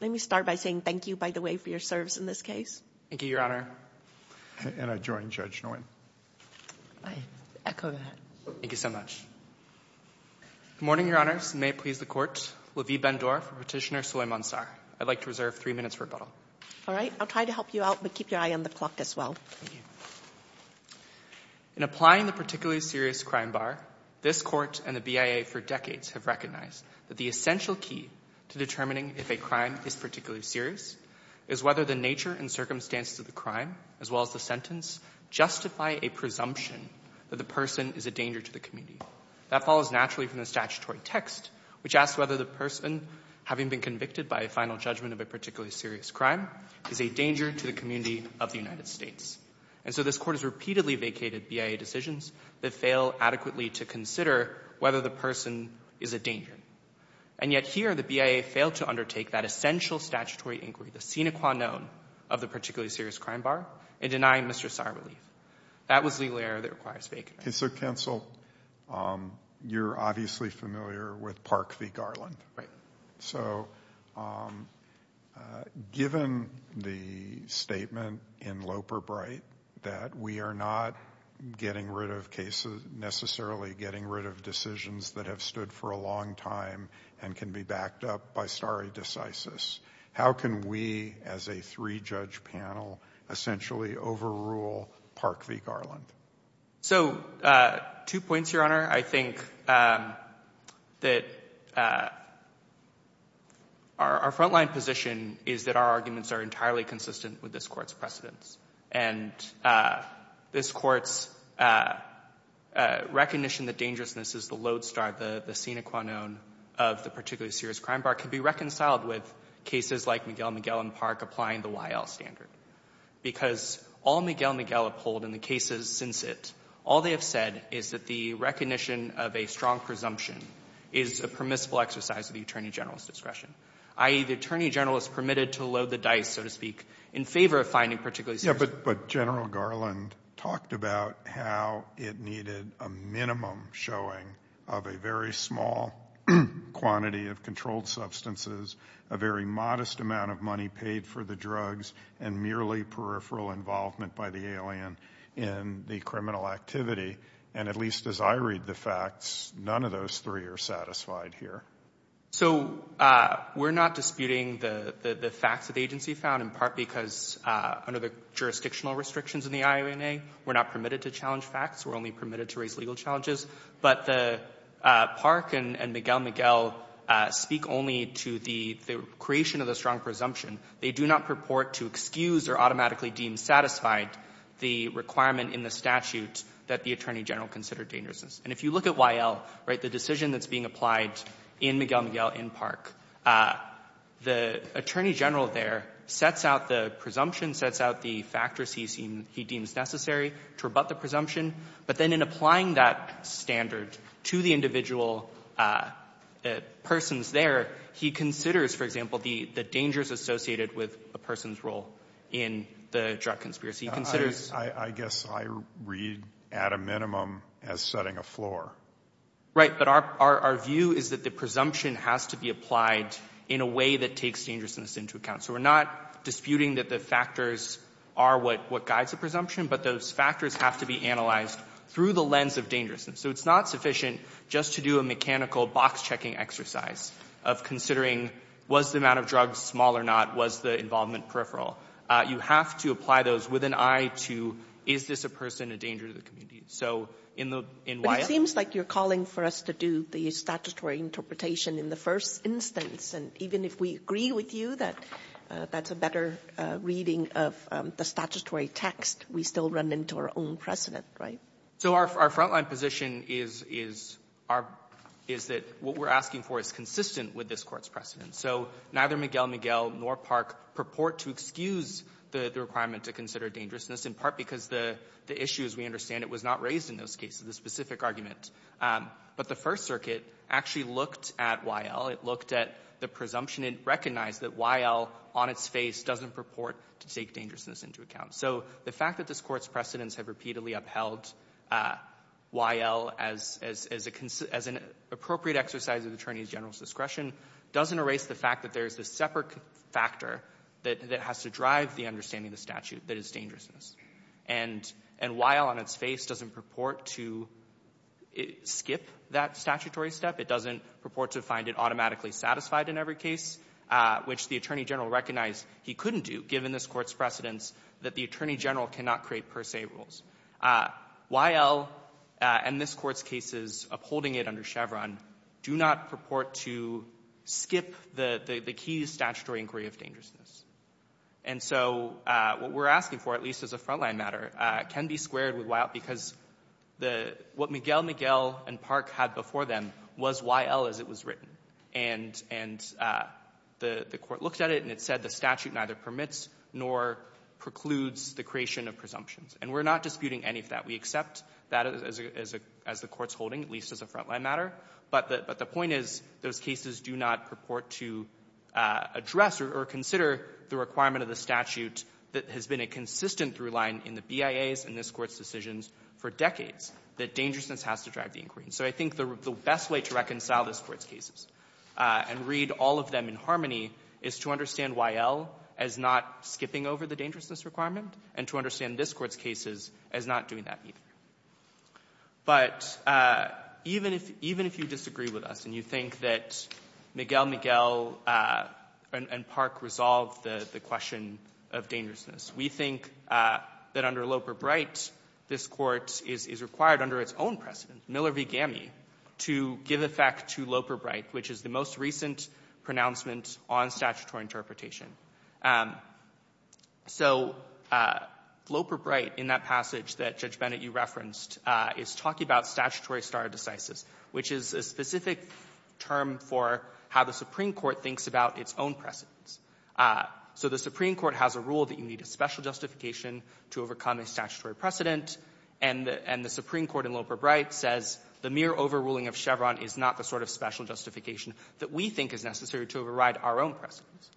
Let me start by saying thank you, by the way, for your service in this case. Thank you, Your Honor. And I join Judge Nguyen. I echo that. Thank you so much. Good morning, Your Honors, and may it please the Court. Lavie Ben-Dor for Petitioner Soy Monsar. I'd like to reserve three minutes for rebuttal. All right. I'll try to help you out, but keep your eye on the clock as well. Thank you. In applying the Particularly Serious Crime Bar, this Court and the BIA for decades have recognized that the essential key to determining if a crime is particularly serious is whether the nature and circumstances of the crime, as well as the sentence, justify a presumption that the person is a danger to the community. That follows naturally from the statutory text, which asks whether the person, having been convicted by a final judgment of a particularly serious crime, is a danger to the community of the United States. And so this Court has repeatedly vacated BIA decisions that fail adequately to consider whether the person is a danger. And yet here, the BIA failed to undertake that essential statutory inquiry, the sine qua non, of the Particularly Serious Crime Bar in denying Mr. Sar relief. That was legal error that requires vacating. Okay. So, counsel, you're obviously familiar with Park v. Garland. Right. So, given the statement in Loper Bright that we are not getting rid of cases, necessarily getting rid of decisions that have stood for a long time and can be backed up by stare decisis, how can we, as a three-judge panel, essentially overrule Park v. Garland? So, two points, Your Honor. I think that our front-line position is that our arguments are entirely consistent with this Court's precedents. And this Court's recognition that dangerousness is the lodestar, the sine qua non, of the Particularly Serious Crime Bar can be reconciled with cases like Miguel Miguel and Park applying the YL standard. Because all Miguel Miguel uphold in the cases since it, all they have said is that the recognition of a strong presumption is a permissible exercise of the attorney general's discretion, i.e., the attorney general is permitted to load the dice, so to speak, in favor of finding particularly serious... But General Garland talked about how it needed a minimum showing of a very small quantity of controlled substances, a very modest amount of money paid for the drugs, and merely peripheral involvement by the alien in the criminal activity. And at least as I read the facts, none of those three are satisfied here. So, we're not disputing the facts that the agency found in part because under the jurisdictional restrictions in the IOMA, we're not permitted to challenge facts. We're only permitted to raise legal challenges. But the Park and Miguel Miguel speak only to the creation of the strong presumption. They do not purport to excuse or automatically deem satisfied the requirement in the statute that the attorney general considered dangerousness. And if you look at YL, right, the decision that's being applied in Miguel Miguel in Park, the attorney general there sets out the presumption, sets out the factors he deems necessary to rebut the presumption. But then in applying that standard to the individual persons there, he considers, for example, the dangers associated with a person's role in the drug conspiracy. He considers... I guess I read at a minimum as setting a floor. Right, but our view is that the presumption has to be applied in a way that takes dangerousness into account. So, we're not disputing that the factors are what guides the presumption, but those factors have to be analyzed through the lens of dangerousness. So, it's not sufficient just to do a mechanical box-checking exercise of considering was the amount of drugs small or not, was the involvement peripheral. You have to apply those with an eye to is this a person a danger to the community. So, in YL... But it seems like you're calling for us to do the statutory interpretation in the first instance. And even if we agree with you that that's a better reading of the statutory text, we still run into our own precedent, right? So, our frontline position is that what we're asking for is consistent with this court's precedent. So, neither Miguel Miguel nor Park purport to excuse the requirement to consider dangerousness, in part because the issue, as we understand it, was not raised in those cases, the specific argument. But the First Circuit actually looked at YL. It looked at the presumption and recognized that YL on its face doesn't purport to take dangerousness into account. So, the fact that this Court's precedents have repeatedly upheld YL as an appropriate exercise of the attorney's general discretion doesn't erase the fact that there's a separate factor that has to drive the understanding of the statute that is dangerousness. And YL on its face doesn't purport to skip that statutory step. It doesn't purport to find it automatically satisfied in every case, which the attorney general recognized he couldn't do, given this Court's precedents, that the attorney general cannot create per se rules. YL and this Court's cases upholding it under Chevron do not purport to skip the key statutory inquiry of dangerousness. And so what we're asking for, at least as a front-line matter, can be squared with YL because what Miguel, Miguel, and Park had before them was YL as it was written. And the Court looked at it, and it said the statute neither permits nor precludes the creation of presumptions. And we're not disputing any of that. We accept that as the Court's holding, at least as a front-line matter. But the point is those cases do not purport to address or consider the requirement of the statute that has been a consistent through-line in the BIAs and this Court's decisions for decades, that dangerousness has to drive the inquiry. And so I think the best way to reconcile this Court's cases and read all of them in harmony is to understand YL as not skipping over the dangerousness requirement and to understand this Court's cases as not doing that either. But even if you look at it, even if you disagree with us and you think that Miguel, Miguel, and Park resolved the question of dangerousness, we think that under Loper-Bright, this Court is required under its own precedent, Miller v. Gami, to give effect to Loper-Bright, which is the most recent pronouncement on statutory interpretation. So Loper-Bright in that passage that Judge Bennett, you referenced, is talking about statutory stare decisis, which is a specific term for how the Supreme Court thinks about its own precedents. So the Supreme Court has a rule that you need a special justification to overcome a statutory precedent, and the Supreme Court in Loper-Bright says the mere overruling of Chevron is not the sort of special justification that we think is necessary to override our own precedents.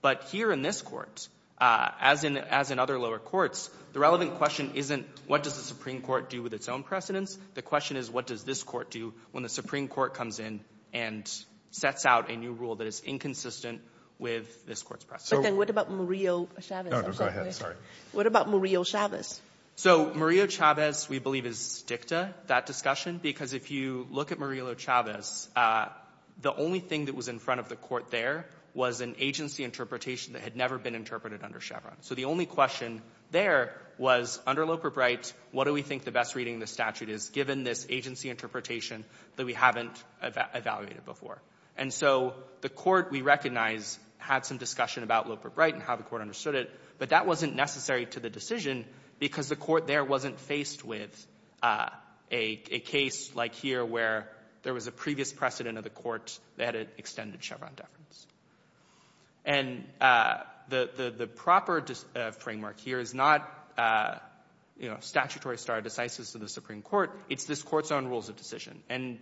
But here in this Court, as in other lower courts, the relevant question isn't what does the Supreme Court do with its own precedents. The question is what does this Court do when the Supreme Court comes in and sets out a new rule that is inconsistent with this Court's precedents. But then what about Murillo-Chavez? No, no, go ahead. Sorry. What about Murillo-Chavez? So Murillo-Chavez we believe is dicta, that discussion, because if you look at Murillo-Chavez, there was an agency interpretation that had never been interpreted under Chevron. So the only question there was, under Loper-Bright, what do we think the best reading of the statute is, given this agency interpretation that we haven't evaluated before? And so the Court, we recognize, had some discussion about Loper-Bright and how the Court understood it, but that wasn't necessary to the decision because the Court there wasn't faced with a case like here where there was a previous precedent of the Court that had extended Chevron deference. And the proper framework here is not, you know, statutory stare decisis of the Supreme Court. It's this Court's own rules of decision. And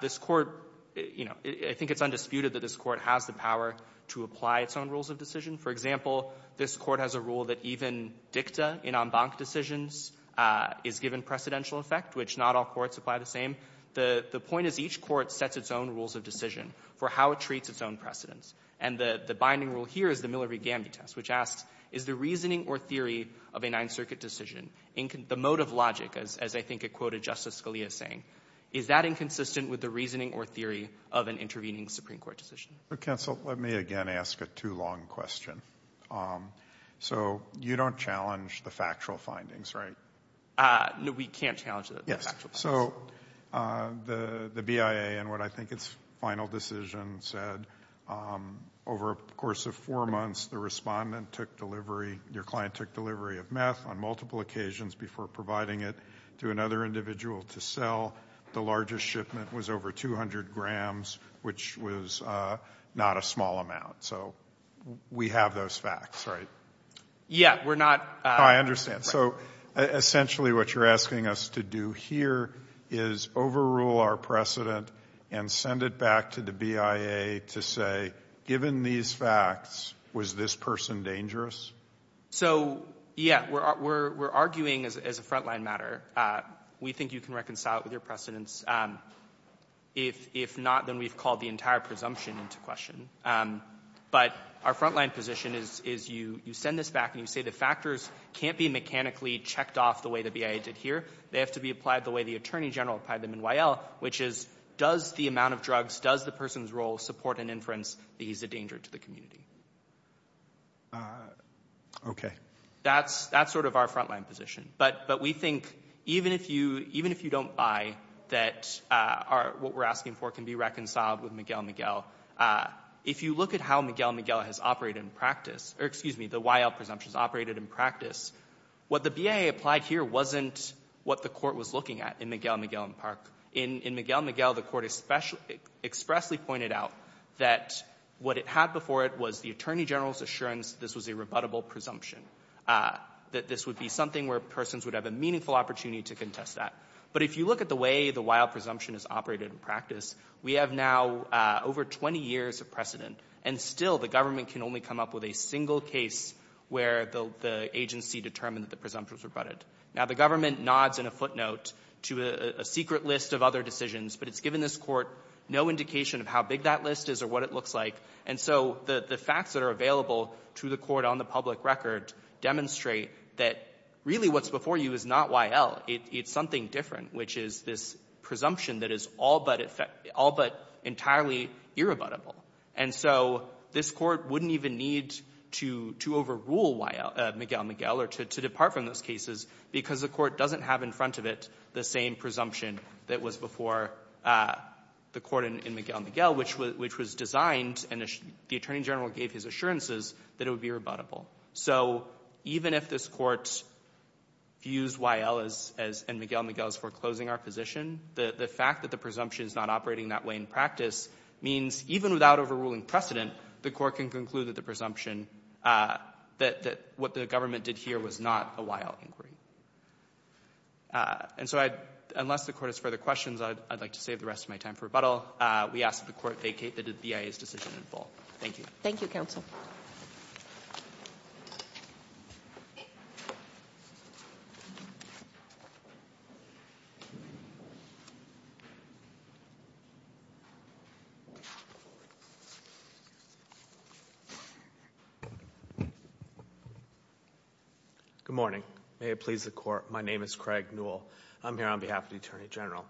this Court, you know, I think it's undisputed that this Court has the power to apply its own rules of decision. For example, this Court has a rule that even dicta in en banc decisions is given precedential effect, which not all courts apply the same. The point is each court sets its own rules of decision for how it treats its own precedents. And the binding rule here is the Miller v. Gamby test, which asks, is the reasoning or theory of a Ninth Circuit decision, the mode of logic, as I think it quoted Justice Scalia saying, is that inconsistent with the reasoning or theory of an intervening Supreme Court decision? Counsel, let me again ask a too long question. So you don't challenge the factual findings, right? No, we can't challenge the factual findings. Yes. So the BIA in what I think its final decision said, over a course of four months, the respondent took delivery, your client took delivery of meth on multiple occasions before providing it to another individual to sell. The largest shipment was over 200 grams, which was not a small amount. So we have those facts, right? Yeah. We're not I understand. So essentially what you're asking us to do here is overrule our precedent and send it back to the BIA to say, given these facts, was this person dangerous? So, yeah, we're arguing as a frontline matter. We think you can reconcile it with your precedents. If not, then we've called the entire presumption into question. But our frontline position is you send this back and you say the factors can't be mechanically checked off the way the BIA did here. They have to be applied the way the Attorney General applied them in Y.L., which is, does the amount of drugs, does the person's role support an inference that he's a danger to the community? Okay. That's sort of our frontline position. But we think even if you don't buy that what we're asking for can be reconciled with Miguel Miguel, if you look at how Miguel Miguel has operated in practice, or excuse me, the Y.L. presumptions operated in practice, what the BIA applied here wasn't what the court was looking at in Miguel Miguel and Park. In Miguel Miguel, the court expressly pointed out that what it had before it was the Attorney General's assurance this was a rebuttable presumption, that this would be something where persons would have a meaningful opportunity to contest that. But if you look at the way the Y.L. presumption is operated in practice, we have now over 20 years of precedent, and still the government can only come up with a single case where the agency determined that the presumption was rebutted. Now, the government nods in a footnote to a secret list of other decisions, but it's given this Court no indication of how big that list is or what it looks like. And so the facts that are available to the Court on the public record demonstrate that really what's before you is not Y.L. It's something different, which is this presumption that is all but entirely irrebuttable. And so this Court wouldn't even need to overrule Miguel Miguel or to depart from those cases because the Court doesn't have in front of it the same presumption that was before the Court in Miguel Miguel, which was designed and the Attorney General gave his assurances that it would be rebuttable. So even if this Court views Y.L. and Miguel Miguel as foreclosing our position, the fact that the presumption is not operating that way in practice means even without overruling precedent, the Court can conclude that the presumption, that what the government did here was not a Y.L. inquiry. And so I'd — unless the Court has further questions, I'd like to save the rest of my time for rebuttal. We ask that the Court vacate the BIA's decision in full. Thank you. Thank you, Counsel. Good morning. May it please the Court, my name is Craig Newell. I'm here on behalf of the Attorney General.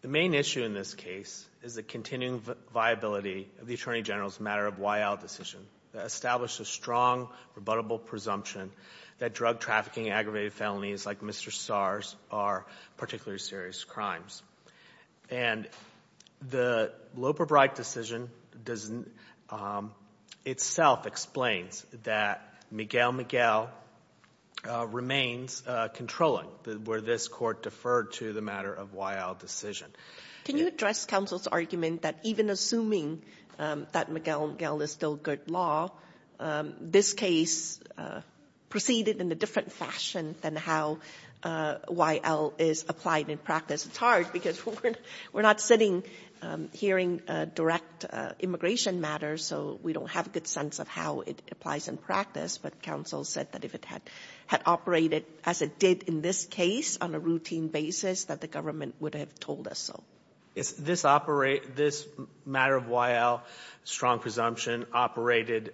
The main issue in this case is the continuing viability of the Attorney General's matter of Y.L. decision that established a strong rebuttable presumption that drug trafficking, aggravated felonies like Mr. Starr's are particularly serious crimes. And the Loper-Bright decision doesn't — itself explains that Miguel Miguel remains controlling where this Court deferred to the matter of Y.L. decision. Can you address Counsel's argument that even assuming that Miguel Miguel is still good law, this case proceeded in a different fashion than how Y.L. is applied in practice? It's hard because we're not sitting hearing direct immigration matters, so we don't have a good sense of how it applies in practice. But Counsel said that if it had operated as it did in this case on a routine basis that the government would have told us so. It's this — this matter of Y.L., strong presumption, operated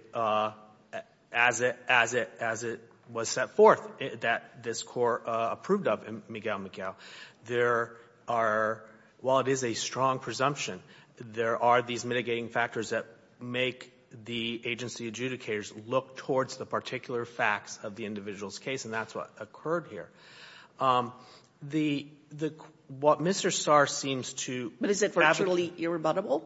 as it — as it — as it was set forth that this Court approved of in Miguel Miguel. There are — while it is a strong presumption, there are these mitigating factors that make the agency adjudicators look towards the particular facts of the individual's case, and that's what occurred here. The — the — what Mr. Starr seems to fabricate — But is it virtually irrebuttable?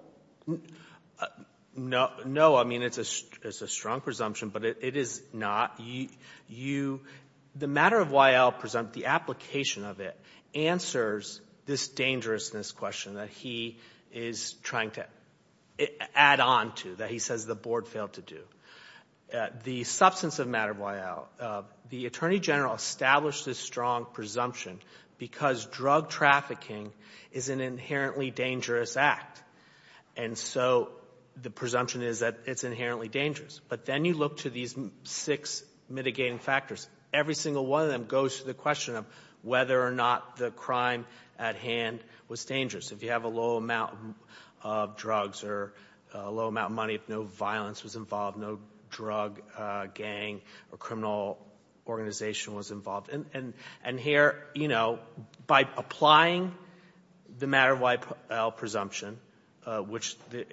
No. No. I mean, it's a — it's a strong presumption, but it is not. You — you — the matter of Y.L. presumpt — the application of it answers this dangerousness question that he is trying to add on to, that he says the Board failed to do. The substance of the matter of Y.L., the Attorney General established this strong presumption because drug trafficking is an inherently dangerous act, and so the presumption is that it's inherently dangerous. But then you look to these six mitigating factors. Every single one of them goes to the question of whether or not the crime at hand was dangerous. If you have a low amount of drugs or a low amount of money, if no violence was involved, no drug gang or criminal organization was involved. And here, you know, by applying the matter of Y.L. presumption, which the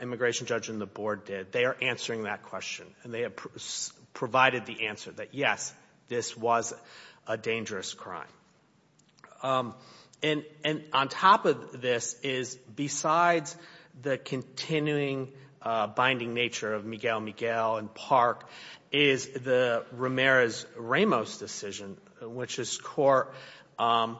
immigration judge and the Board did, they are answering that question, and they have provided the answer that, yes, this was a dangerous crime. And — and on top of this is, besides the continuing binding nature of Miguel Miguel and Park, is the Ramirez-Ramos decision, which is court-deferred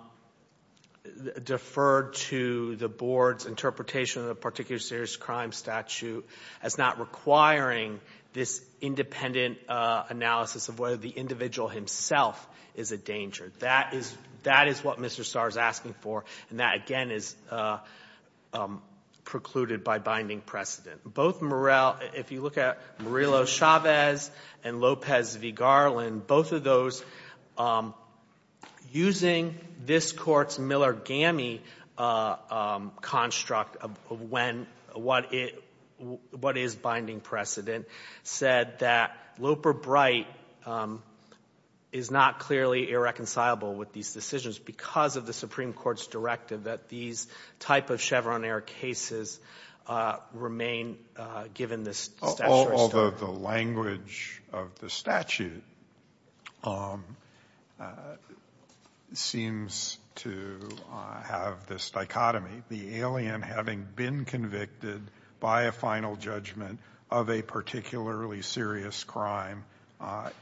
to the Board's interpretation of the particular serious crime statute as not requiring this independent analysis of whether the individual himself is a danger. That is — that is what Mr. Starr is asking for, and that, again, is precluded by binding precedent. Both Murrell — if you look at Murillo-Chavez and Lopez v. Garland, both of those, using this Court's Miller-Gammey construct of when — what it — what is binding precedent said that Loper-Bright is not clearly irreconcilable with these decisions because of the Supreme Court's directive that these type of Chevron-era cases remain, given the statutory scope. The language of the statute seems to have this dichotomy. The alien having been convicted by a final judgment of a particularly serious crime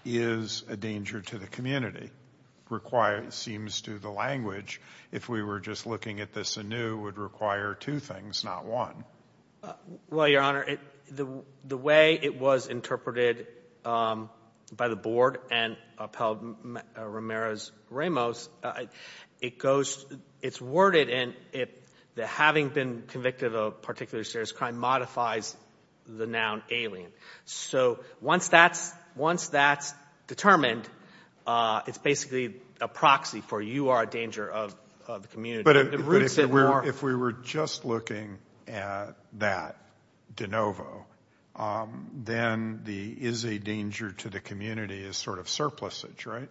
is a danger to the community. It requires — it seems to the language, if we were just looking at this anew, would require two things, not one. Well, Your Honor, the way it was interpreted by the Board and upheld by Ramirez-Ramos, it goes — it's worded in that having been convicted of a particular serious crime modifies the noun alien. So once that's — once that's determined, it's basically a proxy for you are a danger of the community. But if we were just looking at that de novo, then the is a danger to the community is sort of surplusage, right?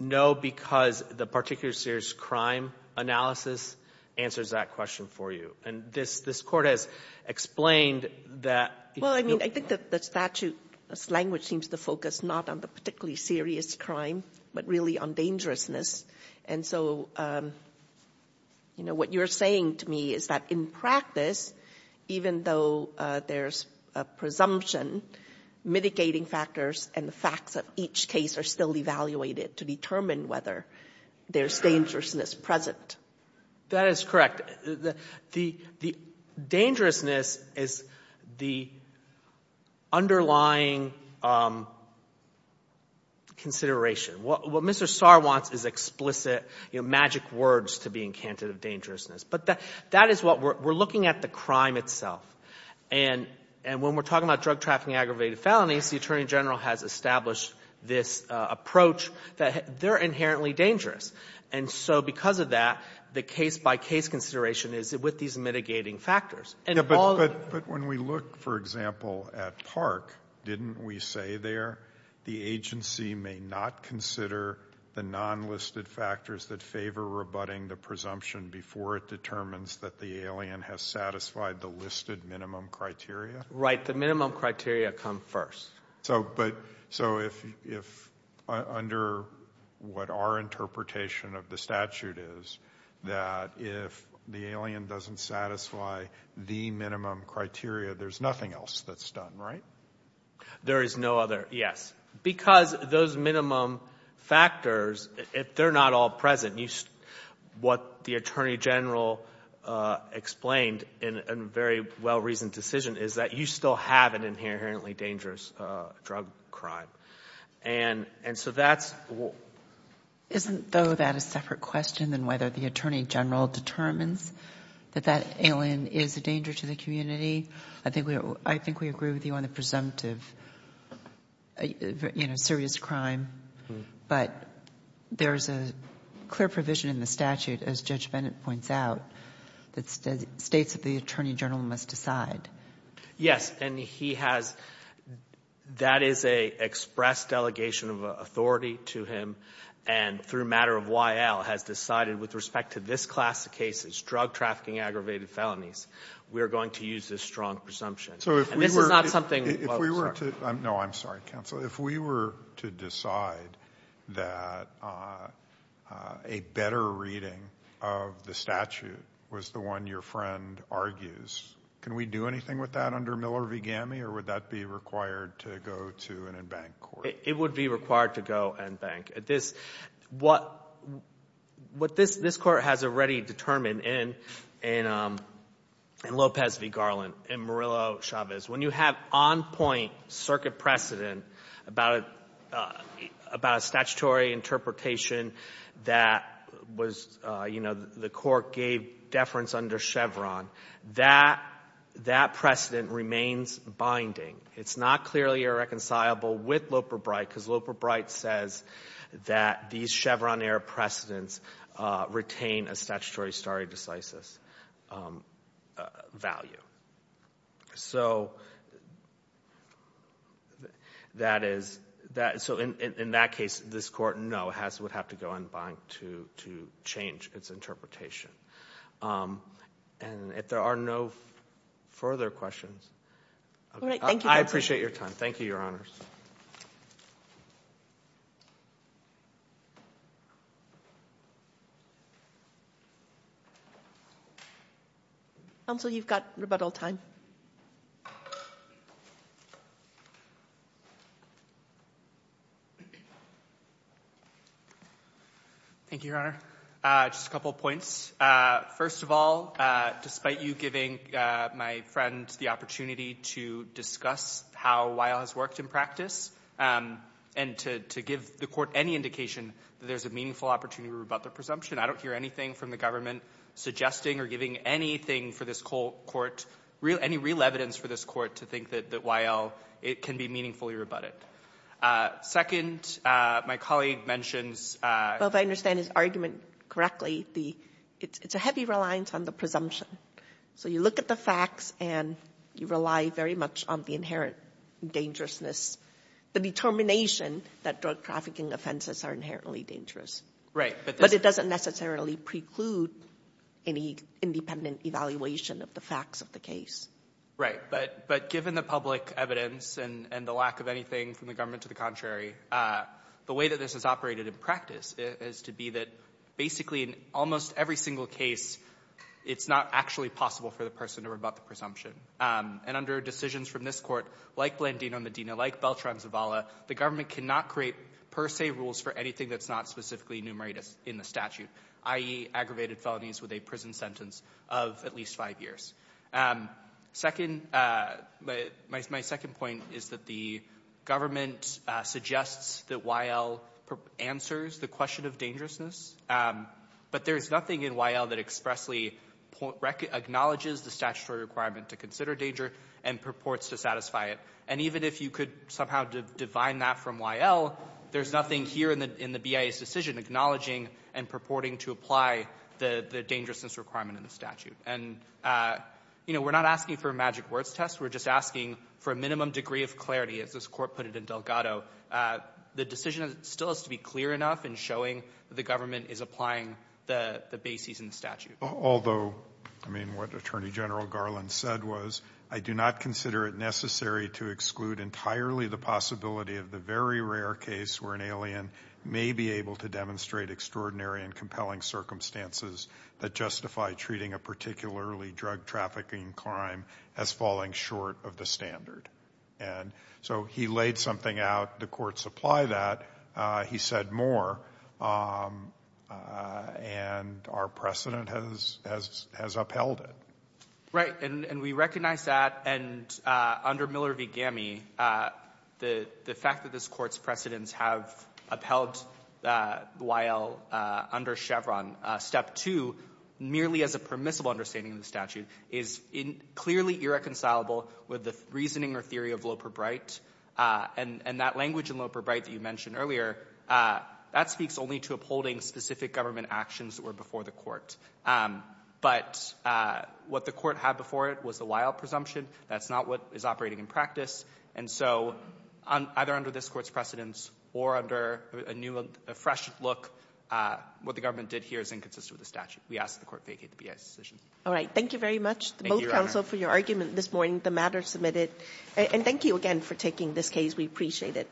No, because the particular serious crime analysis answers that question for you. And this Court has explained that — Well, I mean, I think that the statute's language seems to focus not on the particularly serious crime, but really on dangerousness. And so, you know, what you're saying to me is that in practice, even though there's a presumption, mitigating factors and the facts of each case are still evaluated to determine whether there's dangerousness present. That is correct. The dangerousness is the underlying consideration. What Mr. Sarr wants is explicit, you know, magic words to be encanted of dangerousness. But that is what we're — we're looking at the crime itself. And when we're talking about drug trafficking, aggravated felonies, the Attorney General has established this approach that they're inherently dangerous. And so because of that, the case-by-case consideration is with these mitigating factors. And all — But when we look, for example, at Park, didn't we say there the agency may not consider the nonlisted factors that favor rebutting the presumption before it determines that the alien has satisfied the listed minimum criteria? Right. The minimum criteria come first. So if — under what our interpretation of the statute is, that if the alien doesn't satisfy the minimum criteria, there's nothing else that's done, right? There is no other — yes. Because those minimum factors, if they're not all present, what the Attorney General explained in a very well-reasoned decision is that you still have an inherently dangerous drug crime. And so that's — Isn't, though, that a separate question than whether the Attorney General determines that that alien is a danger to the community? I think we agree with you on the presumptive, you know, serious crime. But there's a clear provision in the statute, as Judge Bennett points out, that states that the Attorney General must decide. Yes. And he has — that is a express delegation of authority to him, and through a matter of why Al has decided with respect to this class of cases, drug trafficking aggravated felonies, we are going to use this strong presumption. So if we were — And this is not something — If we were to — no, I'm sorry, counsel. If we were to decide that a better reading of the statute was the one your friend argues, can we do anything with that under Miller v. Gammey, or would that be required to go to an en banc court? It would be required to go en banc. This — what this Court has already determined in Lopez v. Garland, in Murillo Chavez, when you have on-point circuit precedent about a statutory interpretation that was — you know, the Court gave deference under Chevron, that precedent remains binding. It's not clearly irreconcilable with Loper-Bright because Loper-Bright says that these Chevron-era precedents retain a statutory stare decisis value. So that is — so in that case, this Court, no, would have to go en banc to change its interpretation. And if there are no further questions — All right. Thank you, counsel. I appreciate your time. Thank you, Your Honors. Counsel, you've got about all time. Thank you, Your Honor. Just a couple points. First of all, despite you giving my friend the opportunity to discuss how Weil has been used in practice and to give the Court any indication that there's a meaningful opportunity to rebut the presumption, I don't hear anything from the government suggesting or giving anything for this Court, any real evidence for this Court to think that Weil can be meaningfully rebutted. Second, my colleague mentions — Well, if I understand his argument correctly, it's a heavy reliance on the presumption. So you look at the facts and you rely very much on the inherent dangerousness, the determination that drug trafficking offenses are inherently dangerous. But it doesn't necessarily preclude any independent evaluation of the facts of the case. Right. But given the public evidence and the lack of anything from the government to the contrary, the way that this is operated in practice is to be that basically in almost every single case it's not actually possible for the person to rebut the presumption. And under decisions from this Court, like Blandino-Medina, like Beltran-Zavala, the government cannot create per se rules for anything that's not specifically enumerated in the statute, i.e., aggravated felonies with a prison sentence of at least five years. Second, my second point is that the government suggests that Weil answers the question of dangerousness, but there's nothing in Weil that expressly acknowledges the statutory requirement to consider danger and purports to satisfy it. And even if you could somehow divine that from Weil, there's nothing here in the BIA's decision acknowledging and purporting to apply the dangerousness requirement in the statute. And, you know, we're not asking for a magic words test. We're just asking for a minimum degree of clarity, as this Court put it in Delgado. The decision still has to be clear enough in showing the government is applying the bases in the statute. Although, I mean, what Attorney General Garland said was, I do not consider it necessary to exclude entirely the possibility of the very rare case where an alien may be able to demonstrate extraordinary and compelling circumstances that justify treating a particularly drug trafficking crime as falling short of the standard. And so he laid something out. The Court supplied that. He said more. And our precedent has upheld it. And we recognize that. And under Miller v. Gammey, the fact that this Court's precedents have upheld Weil under Chevron, step two, merely as a permissible understanding of the statute, is clearly irreconcilable with the reasoning or theory of Loper-Bright. And that language in Loper-Bright that you mentioned earlier, that speaks only to upholding specific government actions that were before the But what the Court had before it was the Weil presumption. That's not what is operating in practice. And so either under this Court's precedents or under a new, a fresh look, what the government did here is inconsistent with the statute. We ask that the Court vacate the BIA's decision. All right. Thank you very much to both counsel for your argument this morning. The matter is submitted. And thank you again for taking this case. We appreciate it.